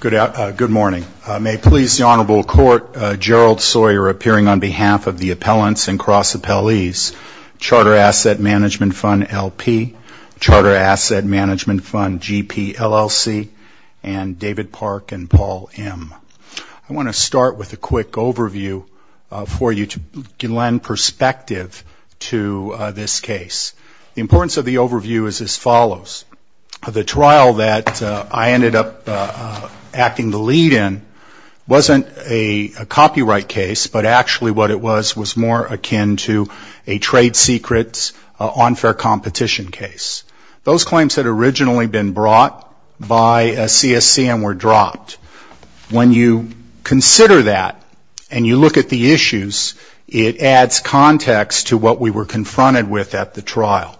Good morning. May it please the Honorable Court, Gerald Sawyer appearing on behalf of the Appellants and Cross-Appellees, Charter Asset Management Fund, L.P., Charter Asset Management Fund, G.P., L.L.C., and David Park and Paul M. I want to start with a quick overview for you to lend perspective to this case. The importance of the overview is as follows. The trial that I ended up acting the lead in wasn't a copyright case, but actually what it was was more akin to a trade secret, unfair competition case. Those claims had originally been brought by CSC and were dropped. When you consider that and you look at the issues, it adds context to what we were confronted with at the trial.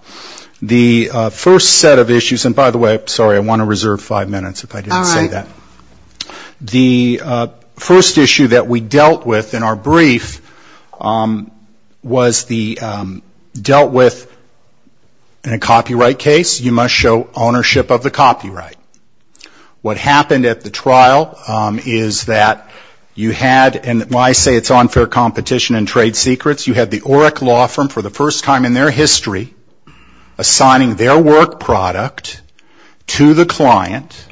The first set of issues, and by the way, sorry, I want to reserve five minutes if I didn't say that. The first issue that we dealt with in our brief was the dealt with in a copyright case, you must show ownership of the copyright. What happened at the trial is that you had, and when I say it's unfair competition and trade secrets, you had the OREC law firm for the first time in their history assigning their work product to the client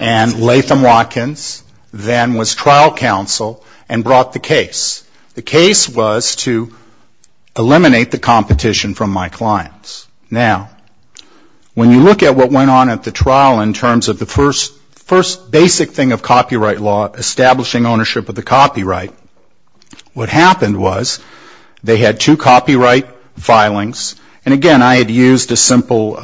and Latham Watkins then was trial counsel and brought the case. The case was to eliminate the competition from my clients. Now, when you look at what went on at the trial in terms of the first basic thing of copyright law, establishing ownership of the copyright, what happened was they had two copyright filings and, again, I had used a simple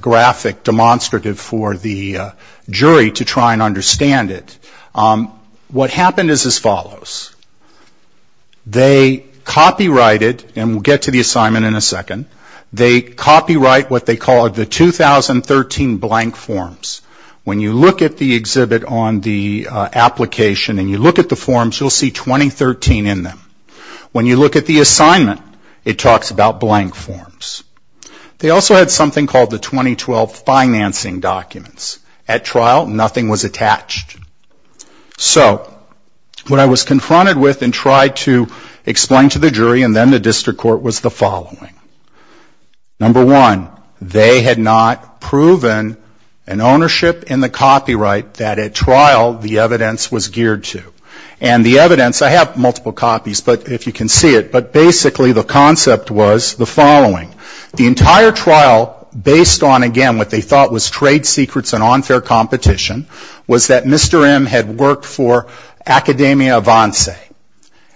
graphic demonstrative for the jury to try and understand it. What happened is as follows. They copyrighted, and we'll get to the assignment in a second, they copyright what they call the 2013 blank forms. When you look at the exhibit on the application and you look at the forms, you'll see 2013 in them. When you look at the assignment, it talks about blank forms. They also had something called the 2012 financing documents. At trial, nothing was attached. So what I was confronted with and tried to explain to the jury and then the district court was the following. Number one, they had not proven an ownership in the copyright that at trial the evidence was geared to. And the evidence, I have multiple copies if you can see it, but basically the concept was the following. The entire trial, based on, again, what they thought was trade secrets and unfair competition, was that Mr. M had worked for Academia Avance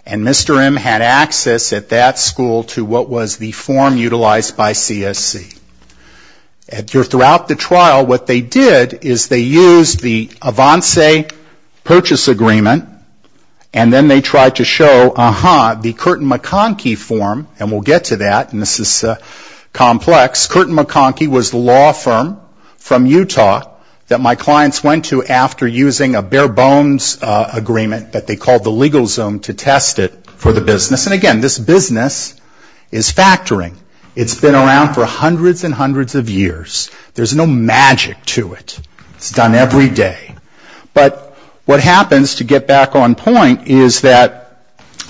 and Mr. M had access at that school to what was the form utilized by CSC. Throughout the trial, what they did is they used the Avance purchase agreement and then they tried to show, uh-huh, the Curtin-McConkie form, and we'll get to that, and this is the one that they used. Curtin-McConkie was the law firm from Utah that my clients went to after using a bare bones agreement that they called the legal zone to test it for the business. And again, this business is factoring. It's been around for hundreds and hundreds of years. There's no magic to it. It's done every day. But what happens, to get back on point, is that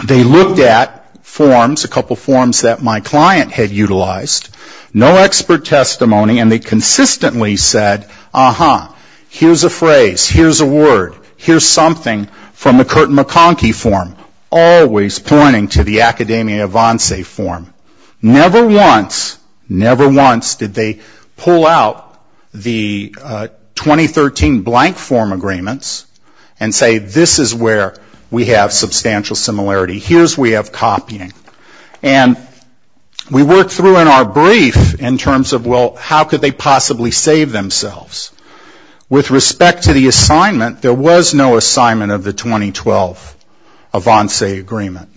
they looked at forms, a couple forms that my client had utilized, no expert testimony, and they consistently said, uh-huh, here's a phrase, here's a word, here's something from the Curtin-McConkie form, always pointing to the Academia Avance form. Never once, never once did they pull out the 2013 blank form agreements and say, this is where we have substantial similarity. Here's where we have copying. And we worked through in our brief in terms of, well, how could they possibly save themselves? With respect to the assignment, there was no assignment of the 2012 Avance agreement.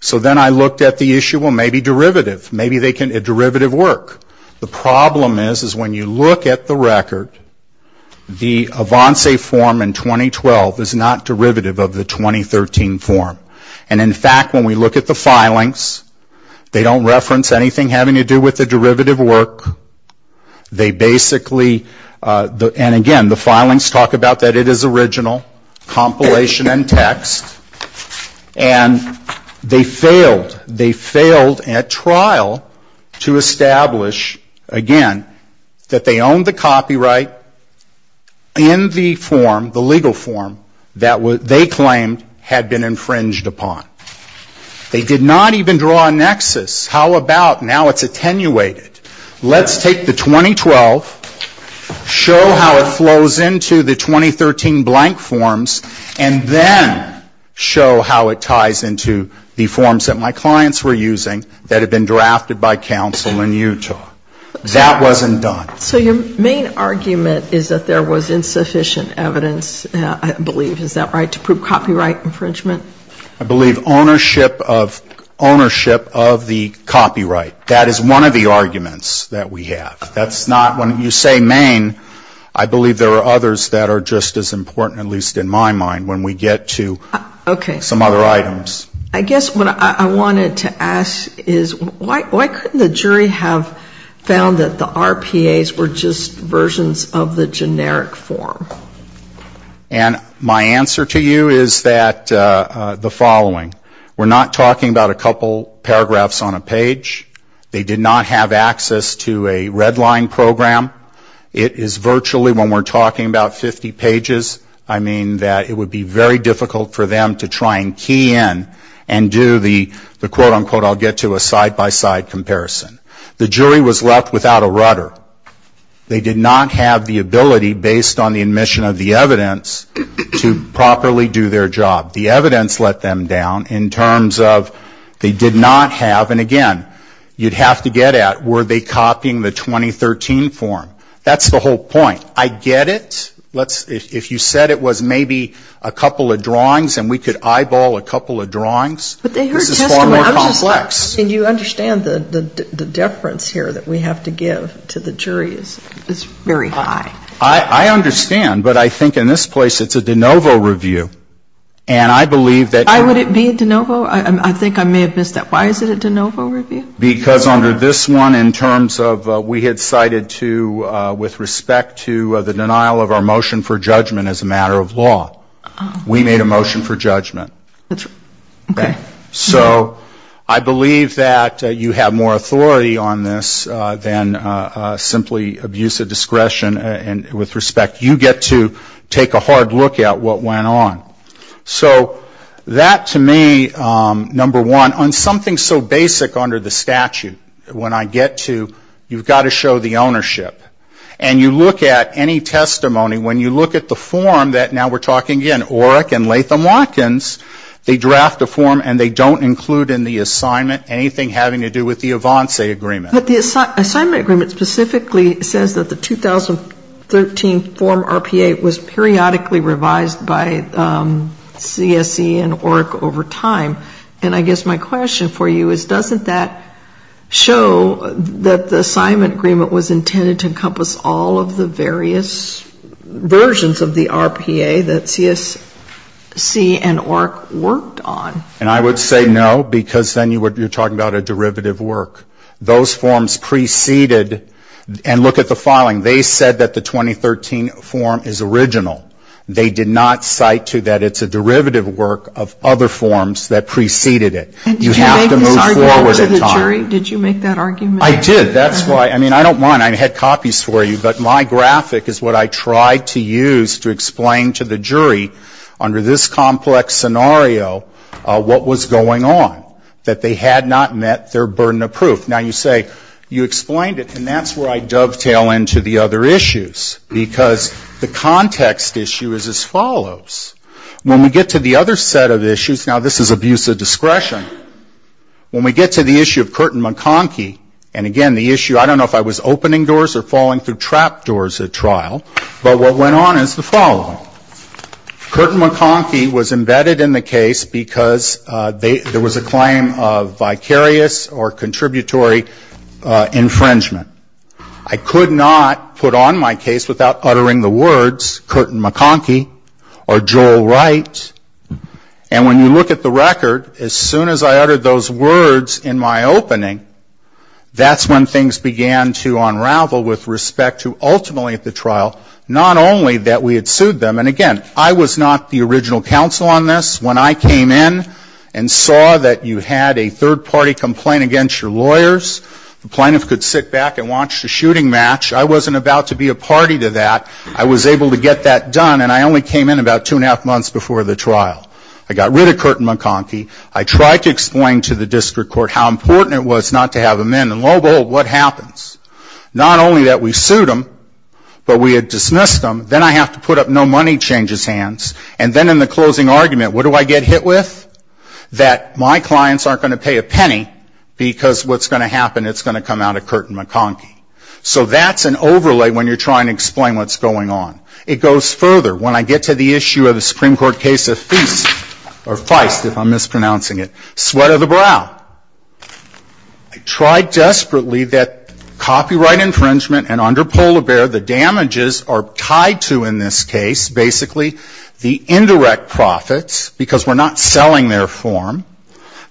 So then I looked at the issue, well, maybe derivative. Maybe they can, a derivative work. The problem is, is when you look at the record, the Avance form in 2012 is not derivative of the 2013 form. And in fact, when we look at the filings, they don't reference anything having to do with the derivative work. They basically, and again, the filings talk about that it is original, compilation and text. And they failed. They failed at trial to establish, again, that they owned the copyright in the form, the legal form, that they claimed had been infringed upon. They did not even draw a nexus. How about now it's attenuated. Let's take the 2012, show how it flows into the 2013 blank forms, and then we have the Avance agreement. Show how it ties into the forms that my clients were using that had been drafted by counsel in Utah. That wasn't done. So your main argument is that there was insufficient evidence, I believe. Is that right, to prove copyright infringement? I believe ownership of the copyright. That is one of the arguments that we have. That's not, when you say main, I believe there are others that are just as important, at least in my mind, when we get to some other items. I guess what I wanted to ask is why couldn't the jury have found that the RPAs were just versions of the generic form? And my answer to you is that the following. We're not talking about a couple paragraphs on a page. They did not have access to a red line program. It is virtually, when we're talking about 50 pages, I mean that it would be very difficult for them to try and key in and do the, quote, unquote, I'll get to a side-by-side comparison. The jury was left without a rudder. They did not have the ability, based on the admission of the evidence, to properly do their job. The evidence let them down in terms of they did not have, and again, you'd have to get at were they copying the 2013 form. That's the whole point. I get it. Let's, if you said it was maybe a couple of drawings and we could eyeball a couple of drawings, this is far more complex. And you understand the deference here that we have to give to the jury is very high. I understand. But I think in this place it's a de novo review. And I believe that. Why would it be a de novo? I think I may have missed that. Why is it a de novo review? Because under this one, in terms of we had cited to, with respect to the denial of our motion for judgment as a matter of law, we made a motion for judgment. Okay. So I believe that you have more authority on this than simply abuse of discretion. And with respect, you get to take a hard look at what went on. So that to me, number one, on something so basic under the statute, when I get to, you've got to show the ownership. And you look at any testimony, when you look at the form that now we're talking again, OREC and Latham Watkins, they draft a form and they don't include in the assignment anything having to do with the Avanse agreement. But the assignment agreement specifically says that the 2013 form RPA was periodically revised by CSC and OREC over time. And I guess my question for you is doesn't that show that the assignment agreement was intended to encompass all of the various versions of the RPA that CSC and OREC worked on? And I would say no, because then you're talking about a derivative work. Those forms preceded, and look at the filing. They said that the 2013 form is original. They did not cite to that it's a derivative work of other forms that preceded it. You have to move forward in time. And did you make this argument to the jury? Did you make that argument? I did. That's why, I mean, I don't mind. I had copies for you. But my graphic is what I tried to use to explain to the jury, under this complex scenario, what was going on, that they had not met their burden of proof. Now, you say, you explained it, and that's where I dovetail into the other issues, because the context issue is as follows. When we get to the other set of issues, now, this is abuse of discretion. When we get to the issue of Curtin-McConkie, and again, the issue, I don't know if I was opening doors or falling through trap doors at trial, but what went on is the following. Curtin-McConkie was embedded in the case because there was a claim of vicarious or contributory infringement. I could not put on my case without uttering the words, Curtin-McConkie or Joel Wright. And when you look at the record, as soon as I uttered those words in my opening, that's when things began to unravel with respect to ultimately at the trial, not only that we had sued them, and again, I was not the original counsel on this. When I came in and saw that you had a third-party complaint against your lawyers, the plaintiff could sit back and watch the shooting match. I wasn't about to be a party to that. I was able to get that done, and I only came in about two and a half months before the trial. I got rid of Curtin-McConkie. I tried to explain to the district court how important it was not to have him in, and lo and behold, what happens? Not only that we sued him, but we had dismissed him. Then I have to put up no money changes hands, and then in the closing argument, what do I get hit with? That my clients aren't going to pay a penny, because what's going to happen, it's going to come out of Curtin-McConkie. So that's an overlay when you're trying to explain what's going on. It goes further. When I get to the issue of the Supreme Court case of Feist, Sweat of the Brow, I tried desperately that copyright infringement, and under polar bear, the damages are tied to, in this case, basically, the indirect profits, because we're not selling them.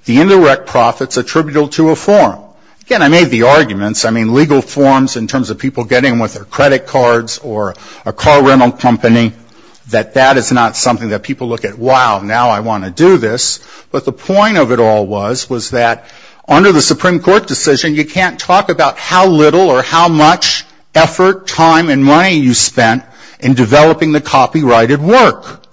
The indirect profits are attributable to a form. Again, I made the arguments, I mean, legal forms in terms of people getting them with their credit cards or a car rental company, that that is not something that people look at, wow, now I want to do this. But the point of it all was, was that under the Supreme Court decision, you can't talk about how little or how much effort, time, and money you spent in developing the copyrighted work.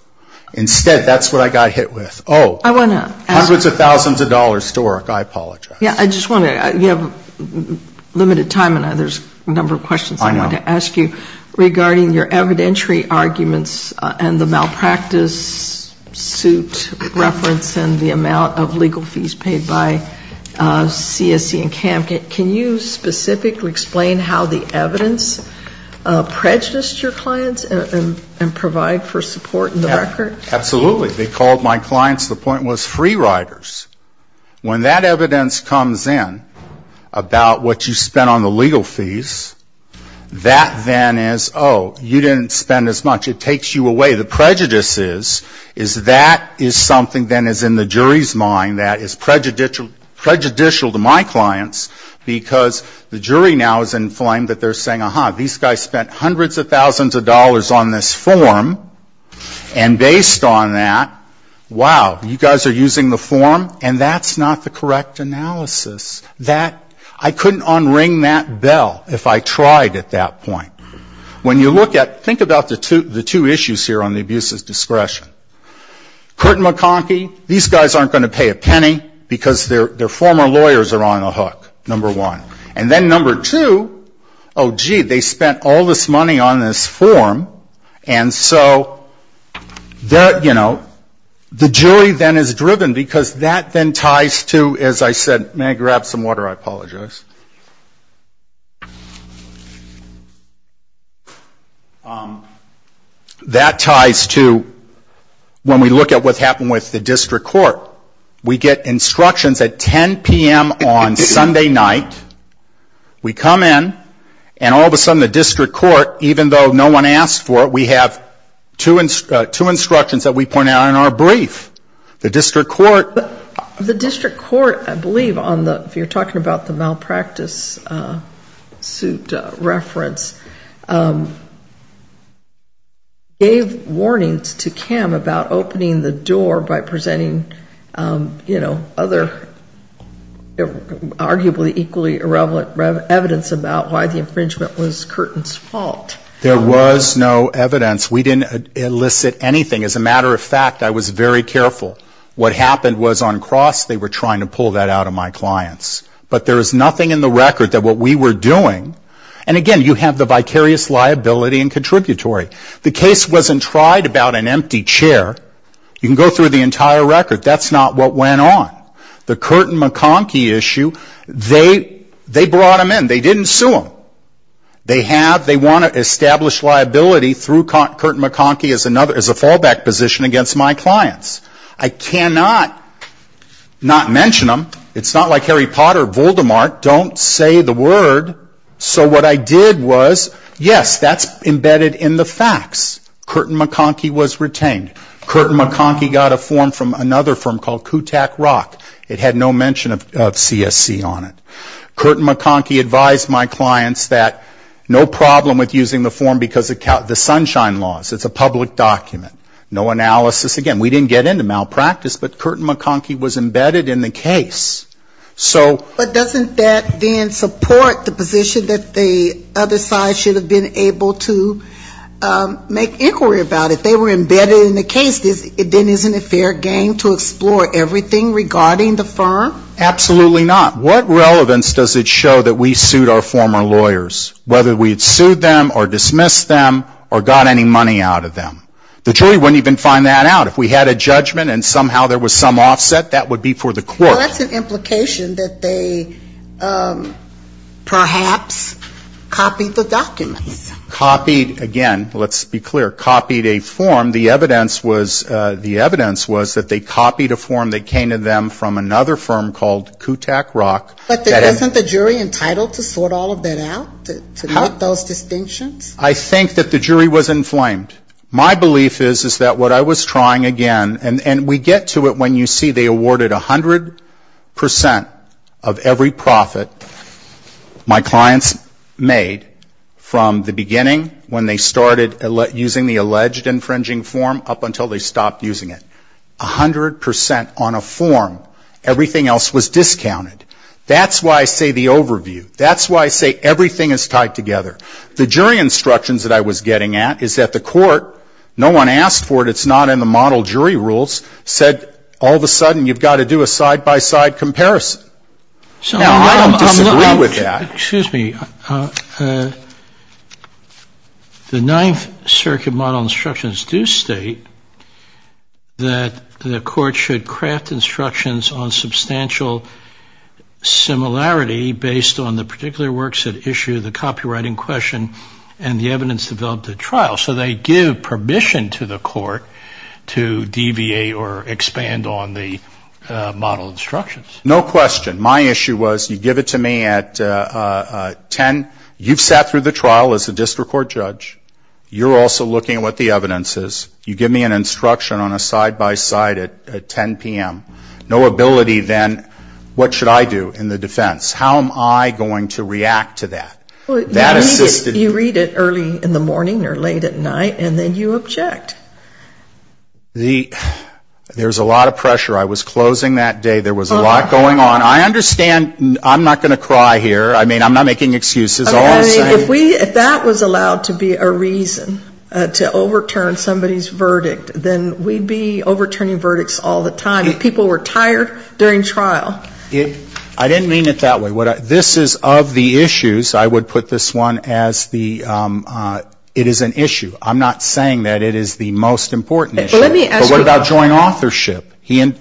Instead, that's what I got hit with. Oh, hundreds of thousands of dollars, Doric, I apologize. I just want to, you have limited time, and there's a number of questions I want to ask you regarding your evidentiary arguments and the malpractice suit reference and the amount of legal fees paid by CSE and CAM. Can you specifically explain how the evidence prejudiced your clients and provide for support? Absolutely. They called my clients, the point was, free riders. When that evidence comes in about what you spent on the legal fees, that then is, oh, you didn't spend as much. It takes you away. The prejudice is, is that is something then is in the jury's mind that is prejudicial to my clients, because the jury now is inflamed that they're saying, ah-ha, these guys spent hundreds of thousands of dollars on this form, and based on that, wow, you guys are using the form, and that's not the correct analysis. That, I couldn't unring that bell if I tried at that point. When you look at, think about the two issues here on the abuse's discretion. Curtin-McConkie, these guys aren't going to pay a penny, because their former lawyers are on the hook, number one. And then number two, oh, gee, they spent all this money on this form, and so they're not going to pay a penny. The jury then is driven, because that then ties to, as I said, may I grab some water? I apologize. That ties to when we look at what's happened with the district court. We get instructions at 10 p.m. on Sunday night. We come in, and all of a sudden the district court, even though no one asked for it, we have two instructions. The two instructions that we pointed out in our brief, the district court. The district court, I believe, if you're talking about the malpractice suit reference, gave warnings to Kim about opening the door by presenting, you know, other arguably equally irrelevant evidence about why the infringement was Curtin's fault. There was no evidence. We didn't elicit anything. As a matter of fact, I was very careful. What happened was on cross, they were trying to pull that out of my clients. But there is nothing in the record that what we were doing, and again, you have the vicarious liability and contributory. The case wasn't tried about an empty chair. You can go through the entire record. That's not what went on. The Curtin-McConkie issue, they brought them in. They didn't sue them. They want to establish liability through Curtin-McConkie as a fallback position against my clients. I cannot not mention them. It's not like Harry Potter, Voldemort, don't say the word. So what I did was, yes, that's embedded in the facts. Curtin-McConkie was retained. Curtin-McConkie got a form from another firm called Kutak Rock. It had no mention of CSC on it. Curtin-McConkie advised my clients that no problem with using the form because of the sunshine laws. It's a public document. No analysis. Again, we didn't get into malpractice, but Curtin-McConkie was embedded in the case. So the other side should have been able to make inquiry about it. They were embedded in the case. Then isn't it fair game to explore everything regarding the firm? Absolutely not. What relevance does it show that we sued our former lawyers, whether we had sued them or dismissed them or got any money out of them? The jury wouldn't even find that out. If we had a judgment and somehow there was some offset, that would be for the court. Well, that's an implication that they perhaps copied the documents. Copied, again, let's be clear, copied a form. The evidence was that they copied a form that came to them from another firm called Kutak Rock. But isn't the jury entitled to sort all of that out, to make those distinctions? I think that the jury was inflamed. My belief is that what I was trying again, and we get to it when you see they awarded 100 percent of every profit my clients made from the beginning when they started using the alleged infringing form up until they That's why I say the overview. That's why I say everything is tied together. The jury instructions that I was getting at is that the court, no one asked for it, it's not in the model jury rules, said all of a sudden, you've got to do a side-by-side comparison. Now, I don't disagree with that. Excuse me. The Ninth Circuit model instructions do state that the court should craft instructions on substantial similarity based on the particular works at issue, the copywriting question, and the evidence developed at trial. So they give permission to the court to deviate or expand on the model instructions. No question. My issue was you give it to me at 10, you've sat through the trial as a district court judge. You're also looking at what the evidence is. You give me an instruction on a side-by-side at 10 p.m. No ability then, what should I do in the defense? How am I going to react to that? You read it early in the morning or late at night and then you object. There's a lot of pressure. I was closing that day. There was a lot going on. I understand I'm not going to cry here. I mean, I'm not making excuses. If that was allowed to be a reason to overturn somebody's verdict, then we'd be overturning verdicts all the time. If people were tired during trial. I didn't mean it that way. This is of the issues, I would put this one as the, it is an issue. I'm not saying that it is the most important issue. But what about joint authorship?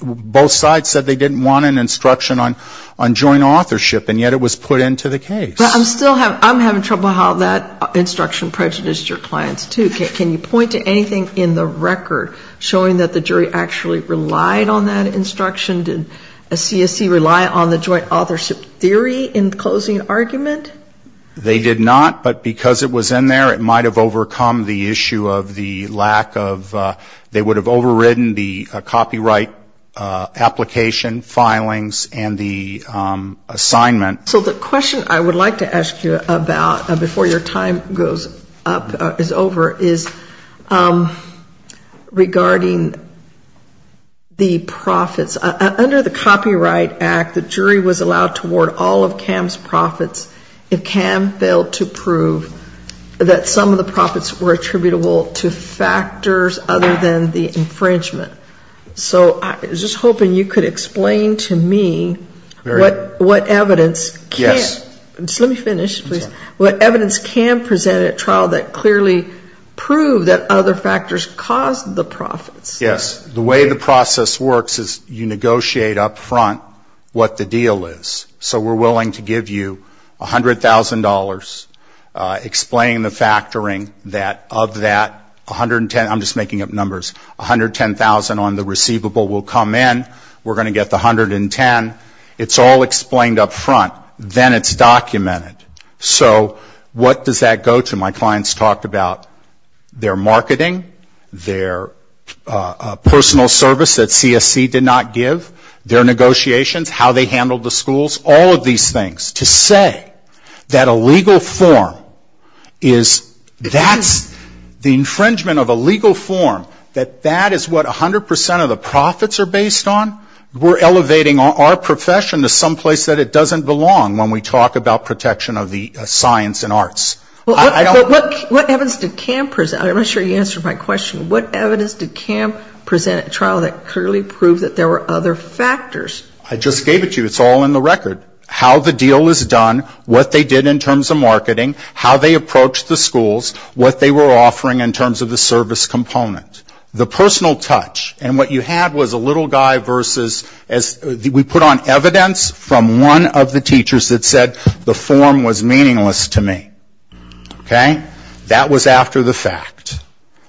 Both sides said they didn't want an instruction on joint authorship, and yet it was put into the case. I'm still having trouble how that instruction prejudiced your clients, too. Can you point to anything in the record showing that the jury actually relied on that instruction? Did CSC rely on the joint authorship theory in closing argument? They did not, but because it was in there, it might have overcome the issue of the lack of, they would have overridden the copyright application filings and the assignment. So the question I would like to ask you about, before your time goes up, is over, is, regarding the profits. Under the Copyright Act, the jury was allowed to award all of Cam's profits. If Cam failed to prove that some of the profits were attributable to factors other than the infringement. So I was just hoping you could explain to me what evidence. Yes. Let me finish, please. What evidence Cam presented at trial that clearly proved that other factors caused the profits. Yes. The way the process works is you negotiate up front what the deal is. So we're willing to give you $100,000, explain the factoring that of that 110, I'm just making up numbers, 110,000 on the receivable will come in. We're going to get the 110. It's all explained up front. Then it's documented. So what does that go to? My clients talked about their marketing, their personal service that CSC did not give, their negotiations, how they handled the schools, all of these things. To say that a legal form is, that's the infringement of a legal form, that that is what 100% of the profits are based on, we're elevating our profession to someplace that it doesn't belong when we talk about protection of the science and arts. What evidence did Cam present, I'm not sure you answered my question, what evidence did Cam present at trial that clearly proved that there were other factors? I just gave it to you, it's all in the record. How the deal is done, what they did in terms of marketing, how they approached the schools, what they were offering in terms of the service component. The personal touch, and what you had was a little guy versus, we put on evidence from one of the teachers that said the form was meaningless to me. Okay? That was after the fact.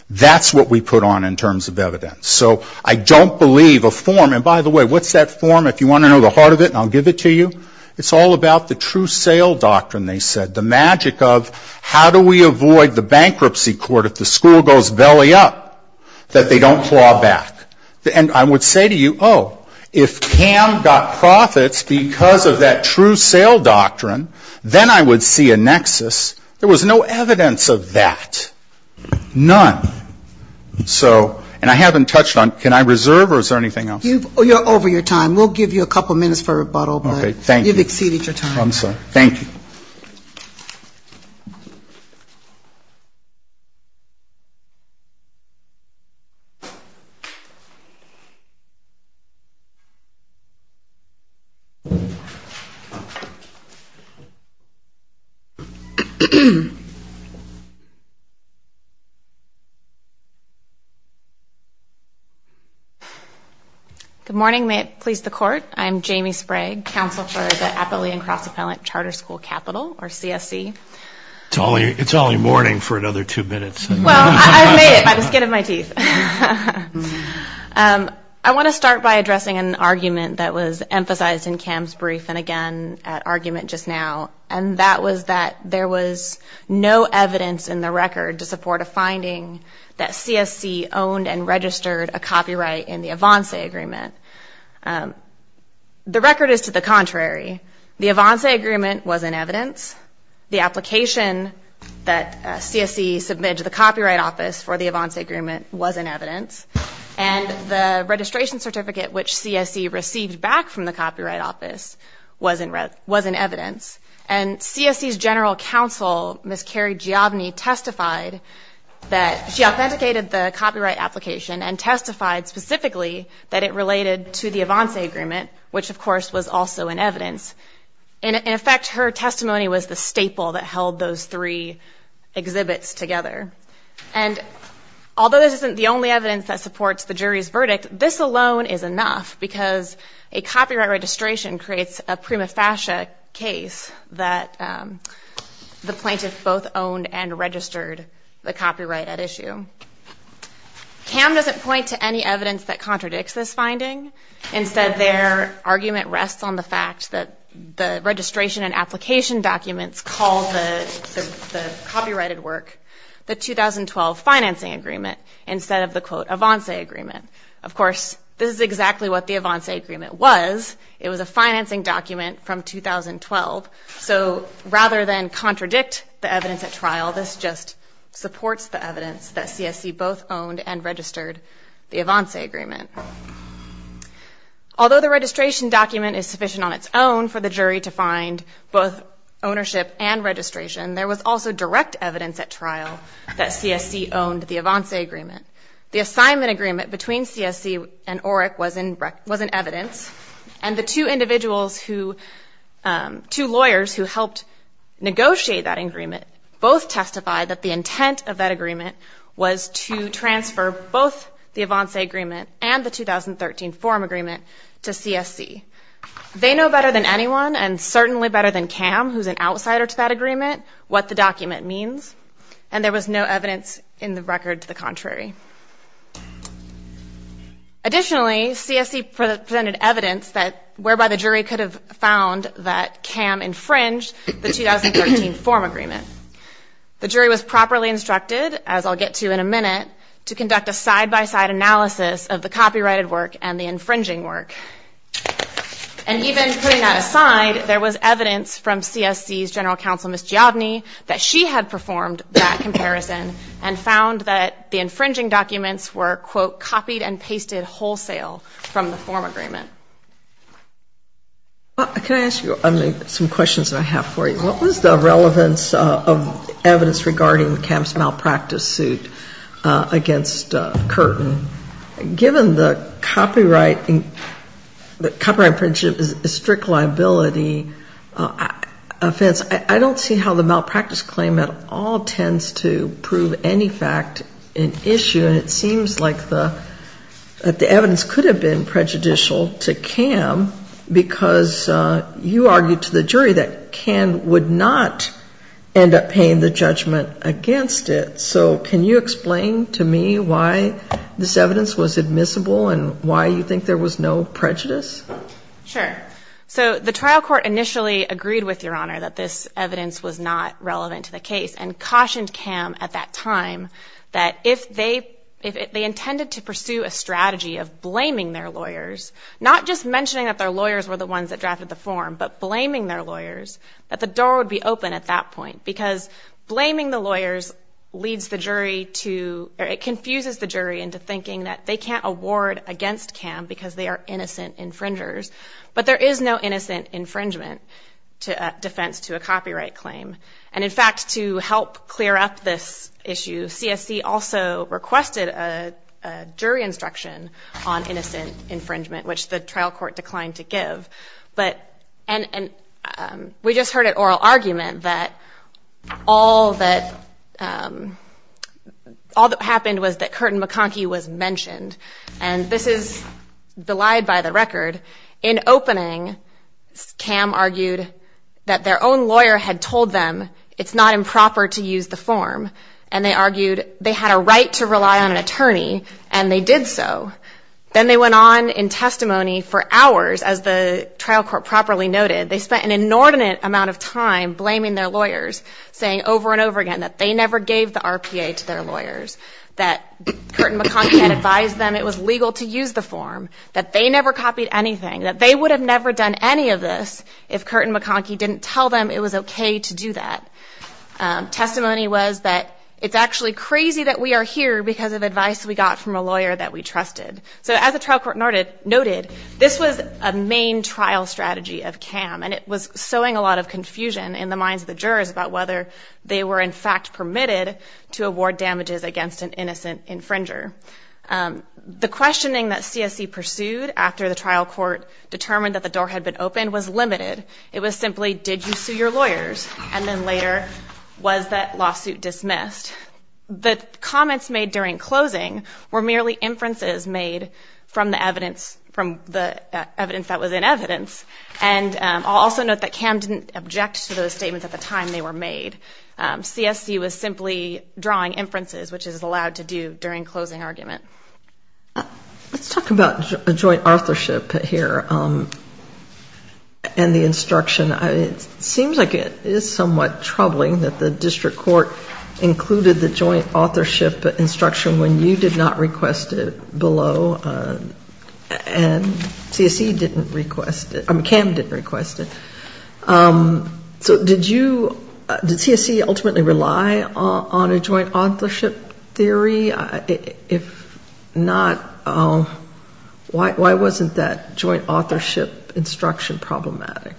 That's what we put on in terms of evidence. So I don't believe a form, and by the way, what's that form, if you want to know the heart of it, I'll give it to you. It's all about the true sale doctrine, they said, the magic of how do we avoid the bankruptcy court if the school goes belly up, that they don't claw back. And I would say to you, oh, if Cam got profits because of that true sale doctrine, then I would see a nexus. There was no evidence of that. None. So, and I haven't touched on, can I reserve or is there anything else? You're over your time. We'll give you a couple minutes for rebuttal, but you've exceeded your time. Thank you. Good morning, may it please the court. I'm Jamie Sprague, counselor for the Appalachian Cross Appellate Charter School Capital, or CSC. It's only morning for another two minutes. I want to start by addressing an argument that was emphasized in Cam's brief, and again, at argument just now, and that was that there was no evidence in the record to support a finding that CSC owned and registered a copyright in the Avanse agreement. The record is to the contrary. The Avanse agreement was in evidence. The application that CSC submitted to the Copyright Office for the Avanse agreement was in evidence. And the registration certificate, which CSC received back from the Copyright Office, was in evidence. And CSC's general counsel, Ms. Carrie Giovanni, testified that she authenticated the copyright application and testified specifically that it related to the Avanse agreement, which of course was also in evidence. In effect, her testimony was the staple that held those three exhibits together. And although this isn't the only evidence that supports the jury's verdict, this alone is enough, because a copyright registration creates a prima facie case that the plaintiff both owned and registered the copyright at issue. Cam doesn't point to any evidence that contradicts this finding. Instead, their argument rests on the fact that the registration and application documents call the copyrighted work the 2012 financing agreement instead of the quote Avanse agreement. Of course, this is exactly what the Avanse agreement was. It was a financing document from 2012. So rather than contradict the evidence at trial, this just supports the evidence that CSC both owned and registered the Avanse agreement. Although the registration document is sufficient on its own for the jury to find both ownership and registration, there was also direct evidence at trial that CSC owned the Avanse agreement. The assignment agreement between CSC and OERC was in evidence, and the two individuals who, two lawyers who helped negotiate that agreement both testified that the intent of that agreement was to transfer both the Avanse agreement and the 2013 forum agreement to CSC. They know better than anyone, and certainly better than Cam, who's an outsider to that agreement, what the document means, and there was no evidence in the record to the contrary. Additionally, CSC presented evidence that whereby the jury could have found that Cam infringed the 2013 forum agreement. The jury was properly instructed, as I'll get to in a minute, to conduct a side-by-side analysis of the copyrighted work and the infringing work. And even putting that aside, there was evidence from CSC's general counsel, Ms. Giovanni, that she had performed that comparison and found that the infringing documents were, quote, copied and pasted wholesale from the forum agreement. Can I ask you some questions that I have for you? What was the relevance of evidence regarding Cam's malpractice suit against Curtin? Given the copyright infringement is a strict liability offense, I don't see how the malpractice claim at all tends to prove any fact an issue. And it seems like the evidence could have been prejudicial to Cam because you argued to the jury that Cam would not end up paying the judgment against it. So can you explain to me why this evidence was admissible and why you think there was no prejudice? Sure. So the trial court initially agreed with Your Honor that this evidence was not relevant to the case and cautioned Cam at that time that if they intended to pursue a strategy of blaming their lawyers, not just mentioning that their lawyers were the ones that drafted the form, but blaming their lawyers, that the door would be open at that point. Because blaming the lawyers leads the jury to, it confuses the jury into thinking that they can't award against Cam because they are innocent infringers. But there is no innocent infringement defense to a copyright claim. And in fact, to help clear up this issue, CSC also requested a jury instruction on innocent infringement, which the trial court declined to give. And we just heard an oral argument that all that happened was that Curtin-McConkie was mentioned. And this is belied by the record. In opening, Cam argued that their own lawyer had told them it's not improper to use the form. And they argued they had a right to rely on an attorney, and they did so. Then they went on in testimony for hours, as the trial court properly noted. They spent an inordinate amount of time blaming their lawyers, saying over and over again that they never gave the RPA to their lawyers, that Curtin-McConkie had advised them it was legal to use the form, that they never copied anything, that they would have never done any of this if Curtin-McConkie didn't tell them it was okay to do that. Testimony was that it's actually crazy that we are here because of advice we got from a lawyer that we trusted. So as the trial court noted, this was a main trial strategy of Cam, and it was sowing a lot of confusion in the minds of the jurors about whether they were in fact permitted to award damages against an innocent infringer. The questioning that CSC pursued after the trial court determined that the door had been opened was limited. It was simply, did you sue your lawyers, and then later, was that lawsuit dismissed? The comments made during closing were merely inferences made from the evidence that was in evidence, and I'll also note that Cam didn't object to those statements at the time they were made. CSC was simply drawing inferences, which is allowed to do during closing argument. Let's talk about joint authorship here and the instruction. It seems like it is somewhat troubling that the district court included the joint authorship instruction when you did not request it below, and Cam didn't request it. So did CSC ultimately rely on a joint authorship theory? If not, why wasn't that joint authorship instruction problematic?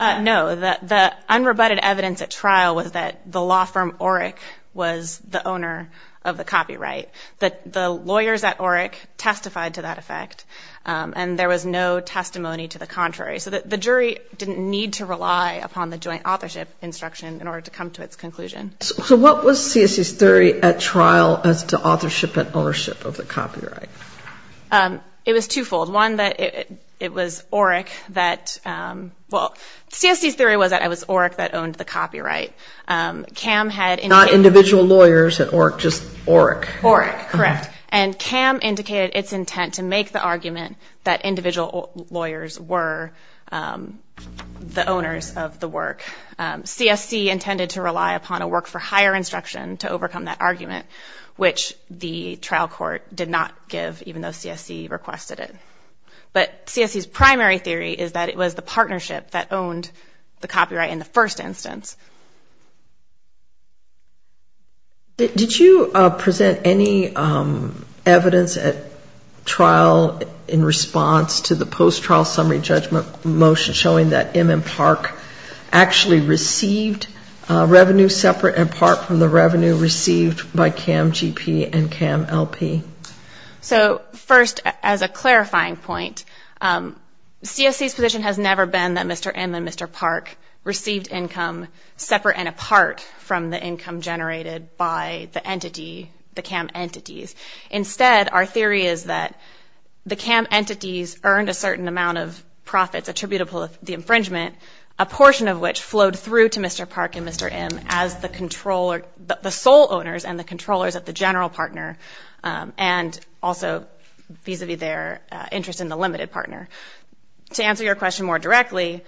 No, the unrebutted evidence at trial was that the law firm Oric was the owner of the copyright. The lawyers at Oric testified to that effect, and there was no testimony to the contrary. So the jury didn't need to rely upon the joint authorship instruction in order to come to its conclusion. So what was CSC's theory at trial as to authorship and ownership of the copyright? It was twofold. One, that it was Oric that, well, CSC's theory was that it was Oric that owned the copyright. Not individual lawyers at Oric, just Oric. Oric, correct, and Cam indicated its intent to make the argument that individual lawyers were the owners of the work. CSC intended to rely upon a work-for-hire instruction to overcome that argument, which the trial court did not give, even though CSC requested it. But CSC's primary theory is that it was the partnership that owned the copyright in the first instance. Did you present any evidence at trial in response to the post-trial summary judgment motion showing that M and Park actually received revenue separate and apart from the revenue received by Cam GP and Cam LP? So, first, as a clarifying point, CSC's position has never been that Mr. M and Mr. Park received income separate and apart from the income generated by the entity, the Cam entities. Instead, our theory is that the Cam entities earned a certain amount of profits attributable to Cam, the infringement, a portion of which flowed through to Mr. Park and Mr. M as the sole owners and the controllers of the general partner, and also vis-a-vis their interest in the limited partner. To answer your question more directly,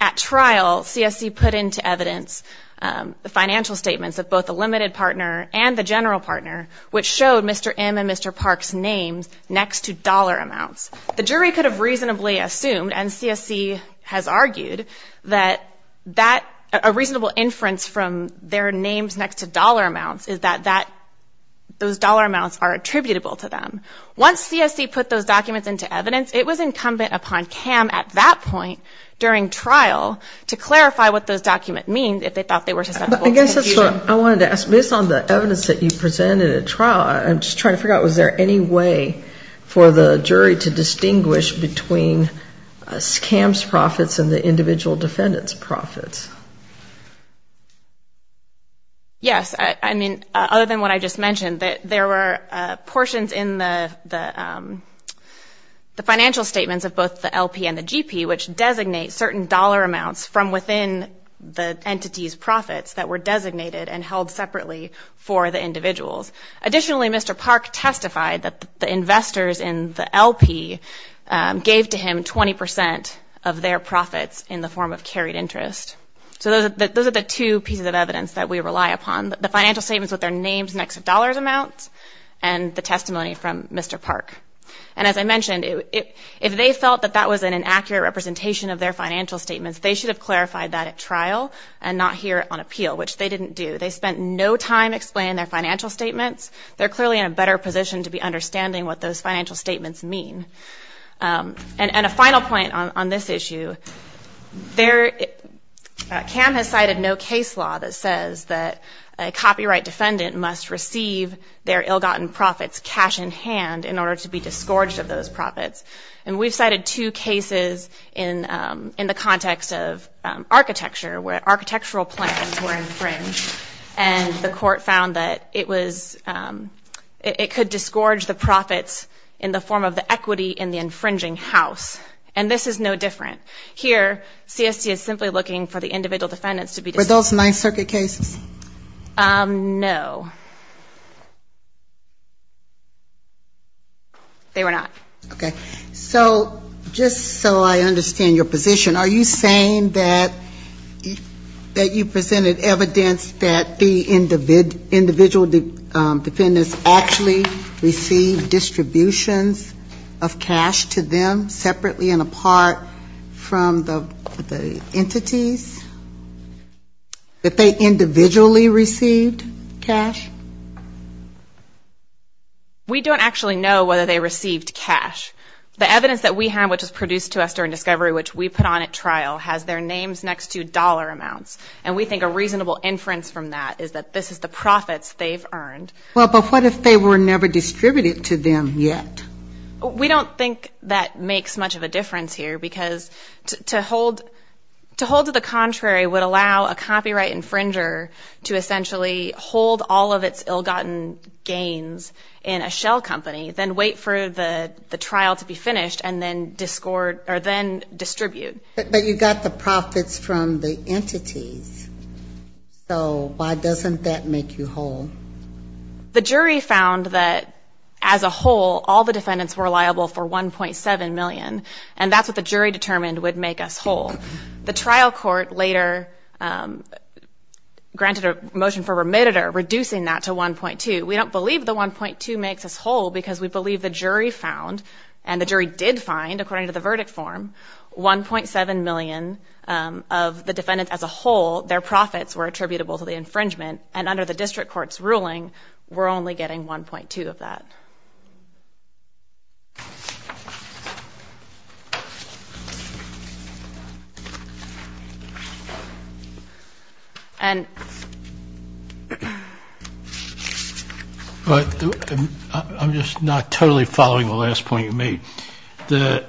at trial, CSC put into evidence the financial statements of both the limited partner and the general partner, which showed Mr. M and Mr. Park's names next to dollar amounts. The jury could have reasonably assumed, and CSC has argued, that a reasonable inference from their names next to dollar amounts is that those dollar amounts are attributable to them. Once CSC put those documents into evidence, it was incumbent upon Cam at that point during trial to clarify what those documents mean if they thought they were susceptible to confusion. So I wanted to ask, based on the evidence that you presented at trial, I'm just trying to figure out, was there any way for the jury to distinguish between Cam's profits and the individual defendant's profits? Yes. I mean, other than what I just mentioned, there were portions in the financial statements of both the LP and the GP which designate certain dollar amounts from within the entity's profits that were designated and held separately for the individuals. Additionally, Mr. Park testified that the investors in the LP gave to him 20 percent of their profits in the form of carried interest. So those are the two pieces of evidence that we rely upon, the financial statements with their names next to dollar amounts, and the testimony from Mr. Park. In terms of the representation of their financial statements, they should have clarified that at trial and not here on appeal, which they didn't do. They spent no time explaining their financial statements. They're clearly in a better position to be understanding what those financial statements mean. And a final point on this issue, Cam has cited no case law that says that a copyright defendant must receive their ill-gotten profits cash in hand in order to be discouraged of those profits. And we've cited two cases in the context of architecture, where architectural plans were infringed, and the court found that it could discourage the profits in the form of the equity in the infringing house. And this is no different. Here, CST is simply looking for the individual defendants to be discouraged. Are those Ninth Circuit cases? No. They were not. Okay. So just so I understand your position, are you saying that you presented evidence that the individual defendants actually received distributions of cash to them separately and apart from the entities? That they individually received cash? We don't actually know whether they received cash. The evidence that we have, which was produced to us during discovery, which we put on at trial, has their names next to dollar amounts. And we think a reasonable inference from that is that this is the profits they've earned. Well, but what if they were never distributed to them yet? We don't think that makes much of a difference here. Because to hold to the contrary would allow a copyright infringer to essentially hold all of its ill-gotten gains in a shell company, then wait for the trial to be finished, and then distribute. But you got the profits from the entities. So why doesn't that make you whole? The jury found that, as a whole, all the defendants were liable for $1.7 million. And that's what the jury determined would make us whole. The trial court later granted a motion for remitter, reducing that to $1.2. We don't believe the $1.2 makes us whole because we believe the jury found, and the jury did find, according to the verdict form, $1.7 million of the defendants as a whole. Their profits were attributable to the infringement, and under the district court's ruling, we're only getting $1.2 of that. I'm just not totally following the last point you made. The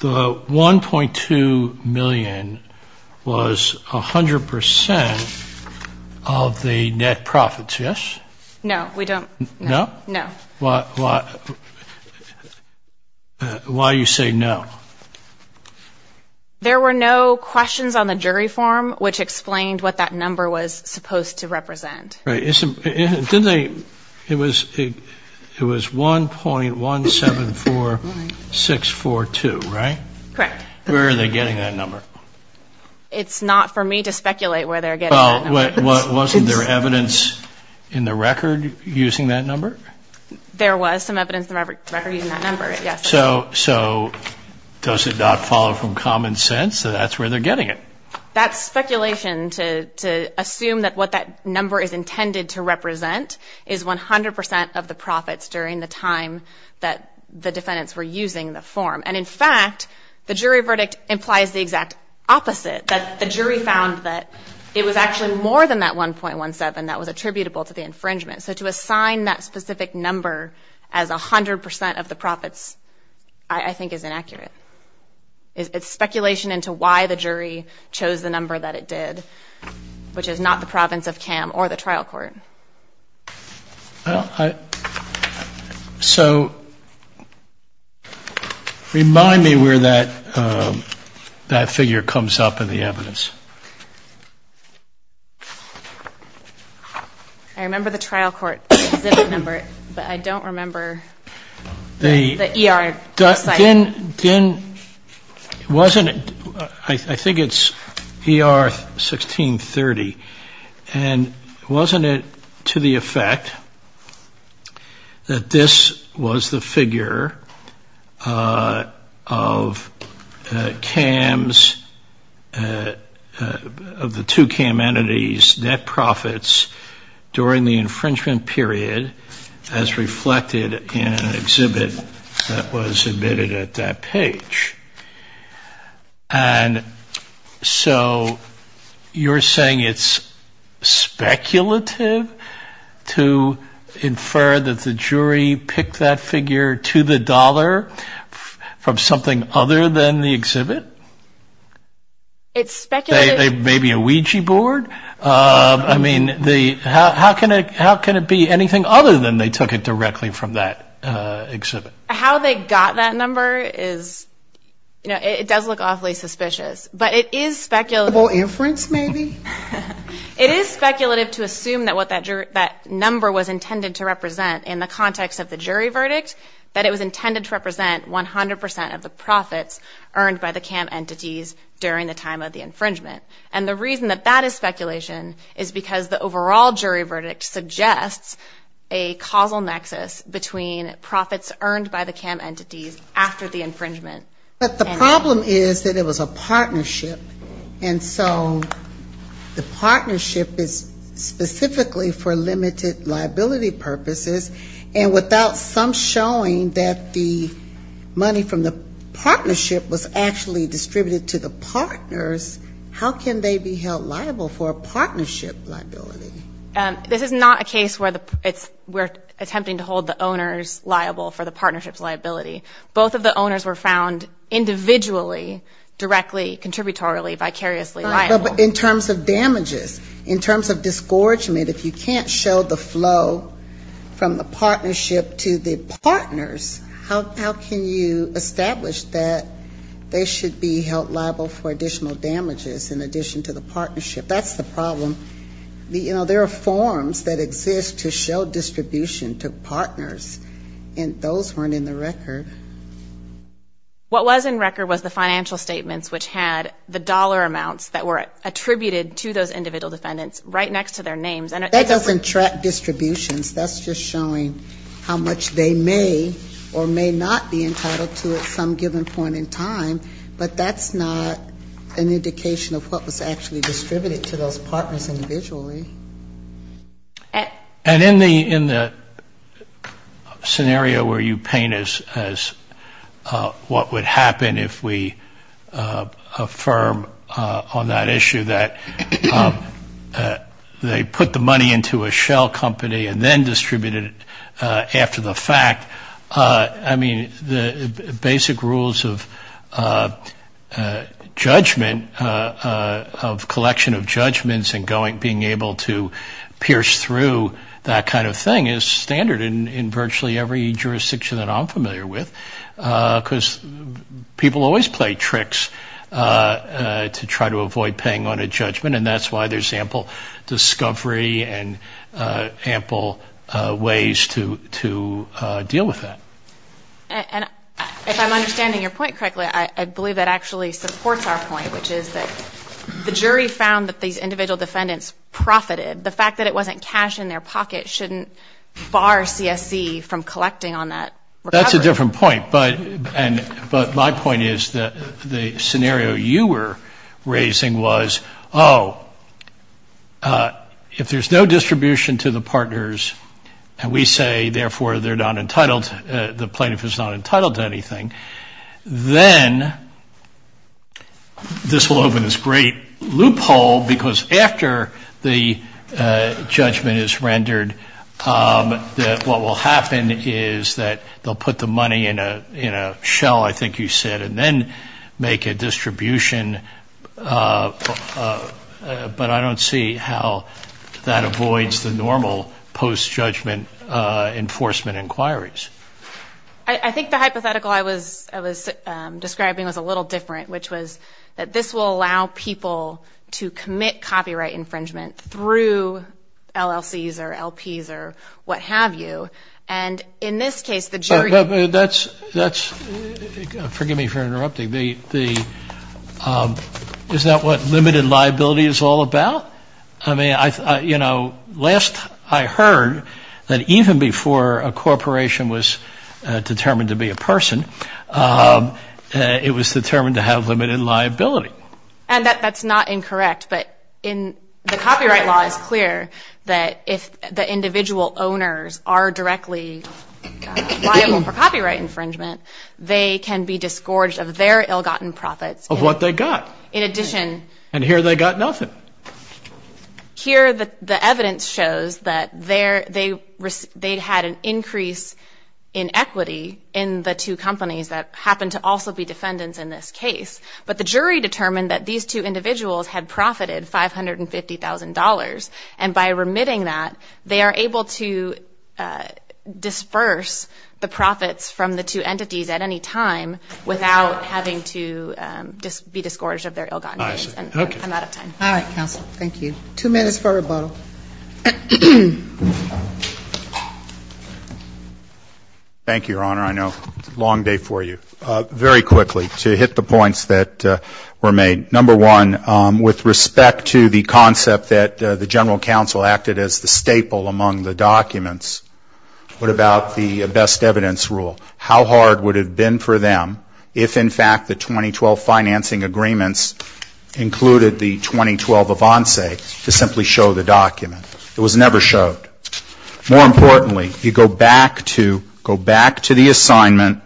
$1.2 million was 100% of the net profits, yes? No. Why do you say no? There were no questions on the jury form which explained what that number was supposed to represent. $1.2 million, right? Correct. Where are they getting that number? It's not for me to speculate where they're getting that number. Well, wasn't there evidence in the record using that number? There was some evidence in the record using that number, yes. So does it not follow from common sense that that's where they're getting it? That's speculation to assume that what that number is intended to represent is 100% of the profits during the time that the defendants were using the form. And in fact, the jury verdict implies the exact opposite, that the jury found that it was actually more than that $1.17 that was attributable to the infringement. So to assign that specific number as 100% of the profits I think is inaccurate. It's speculation into why the jury chose the number that it did, which is not the province of CAM or the trial court. So remind me where that figure comes up in the evidence. I remember the trial court specific number, but I don't remember the ER site. I think it's ER 1630. And wasn't it to the effect that this was the figure of CAM's 1630? Of the two CAM entities, net profits during the infringement period as reflected in an exhibit that was admitted at that page. And so you're saying it's speculative to infer that the jury picked that figure to the dollar from something other than the exhibit? Maybe a Ouija board? I mean, how can it be anything other than they took it directly from that exhibit? How they got that number is, you know, it does look awfully suspicious. But it is speculative to assume that what that number was intended to represent in the context of the jury verdict, that it was intended to represent 100% of the profits earned by the CAM entity. During the time of the infringement. And the reason that that is speculation is because the overall jury verdict suggests a causal nexus between profits earned by the CAM entities after the infringement. But the problem is that it was a partnership. And so the partnership is specifically for limited liability purposes. And without some showing that the money from the partnership was actually distributed to the CAM entities. If it was distributed to the partners, how can they be held liable for a partnership liability? This is not a case where we're attempting to hold the owners liable for the partnership's liability. Both of the owners were found individually, directly, contributorily, vicariously liable. But in terms of damages, in terms of discouragement, if you can't show the flow from the partnership to the partners, how can you establish that they should be held liable for a partnership liability? How can they be held liable for additional damages in addition to the partnership? That's the problem. You know, there are forms that exist to show distribution to partners. And those weren't in the record. What was in record was the financial statements which had the dollar amounts that were attributed to those individual defendants right next to their names. That doesn't track distributions. That's just showing how much they may or may not be entitled to at some given point in time. But that's not an indication of what was actually distributed to those partners individually. And in the scenario where you paint as what would happen if we affirm on that issue that they put the money in the hands of the partners, put the money into a shell company and then distributed it after the fact, I mean, the basic rules of judgment, of collection of judgments and being able to pierce through that kind of thing is standard in virtually every jurisdiction that I'm familiar with. Because people always play tricks to try to avoid paying on a judgment. And that's why there's ample discovery and ample ways to deal with that. And if I'm understanding your point correctly, I believe that actually supports our point, which is that the jury found that these individual defendants profited. The fact that it wasn't cash in their pocket shouldn't bar CSC from collecting on that recovery. That's a different point. But my point is that the scenario you were raising was, oh, if there's no distribution to the partners and we say, therefore, they're not entitled, the plaintiff is not entitled to anything, then this will open this great loophole because after the judgment is rendered, what will happen is that they'll put the money in a shell, I think you said, and then make a distribution. But I don't see how that avoids the normal post-judgment enforcement inquiries. I think the hypothetical I was describing was a little different, which was that this will allow people to commit copyright infringement through LLCs or LPs. Or what have you. And in this case, the jury... That's, forgive me for interrupting, is that what limited liability is all about? I mean, you know, last I heard that even before a corporation was determined to be a person, it was determined to have limited liability. And that's not incorrect. But the copyright law is clear that if the individual owners are directly liable for copyright infringement, they can be disgorged of their ill-gotten profits. Of what they got. In addition... And by remitting that, they are able to disperse the profits from the two entities at any time without having to be disgorged of their ill-gotten gains. I'm out of time. All right, counsel. Thank you. Two minutes for rebuttal. Thank you, Your Honor. I know it's a long day for you. Very quickly, to hit the points that were made. Number one, with respect to the concept that the general counsel acted as the staple among the documents, what about the best evidence rule? How hard would it have been for them if, in fact, the 2012 financing agreements included the 2012 avance to simply show the documents? It was never showed. More importantly, you go back to the assignment.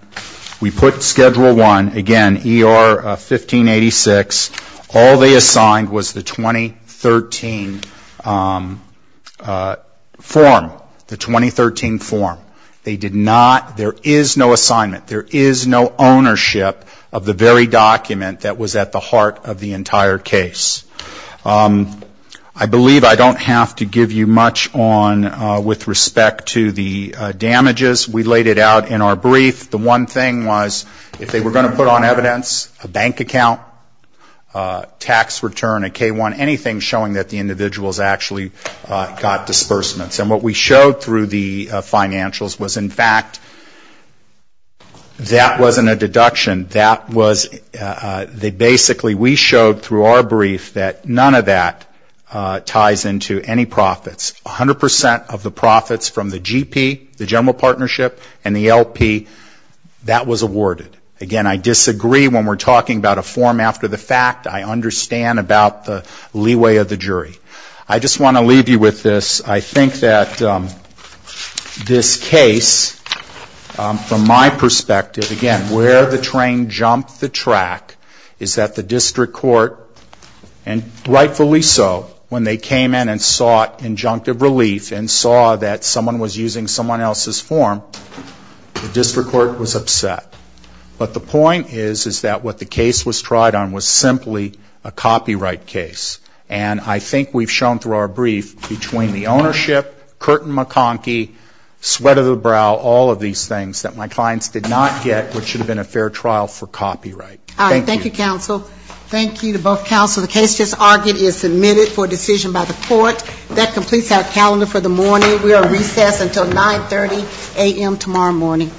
We put Schedule I, again, ER 1586. All they assigned was the 2013 form. They did not, there is no assignment. There is no ownership of the very document that was at the heart of the entire case. I believe I don't have to give you much on, with respect to the damages. We laid it out in our brief. The one thing was if they were going to put on evidence a bank account, tax return, a K-1, anything showing that the individuals actually got disbursements. And what we showed through the financials was, in fact, that wasn't a deduction. That was, they basically, we showed through our brief that none of that ties into any profits. 100% of the profits from the GP, the general partnership, and the LP, that was awarded. Again, I disagree when we're talking about a form after the fact. I understand about the leeway of the jury. I just want to leave you with this. I think that this case, from my perspective, again, where the train jumped the track is that the district court, and rightfully so, when they came in and sought injunctive relief and saw that someone was using someone else's form, the district court was upset. But the point is, is that what the case was tried on was simply a copyright case. And I think we've shown through our brief, between the ownership, Curtin-McConkie, sweat of the brow, all of these things, that my clients did not get what should have been a fair trial for copyright. Thank you. All right. Thank you, counsel. Thank you to both counsel. The case just argued is submitted for decision by the court. That completes our calendar for the morning. We will recess until 9.30 a.m. tomorrow morning.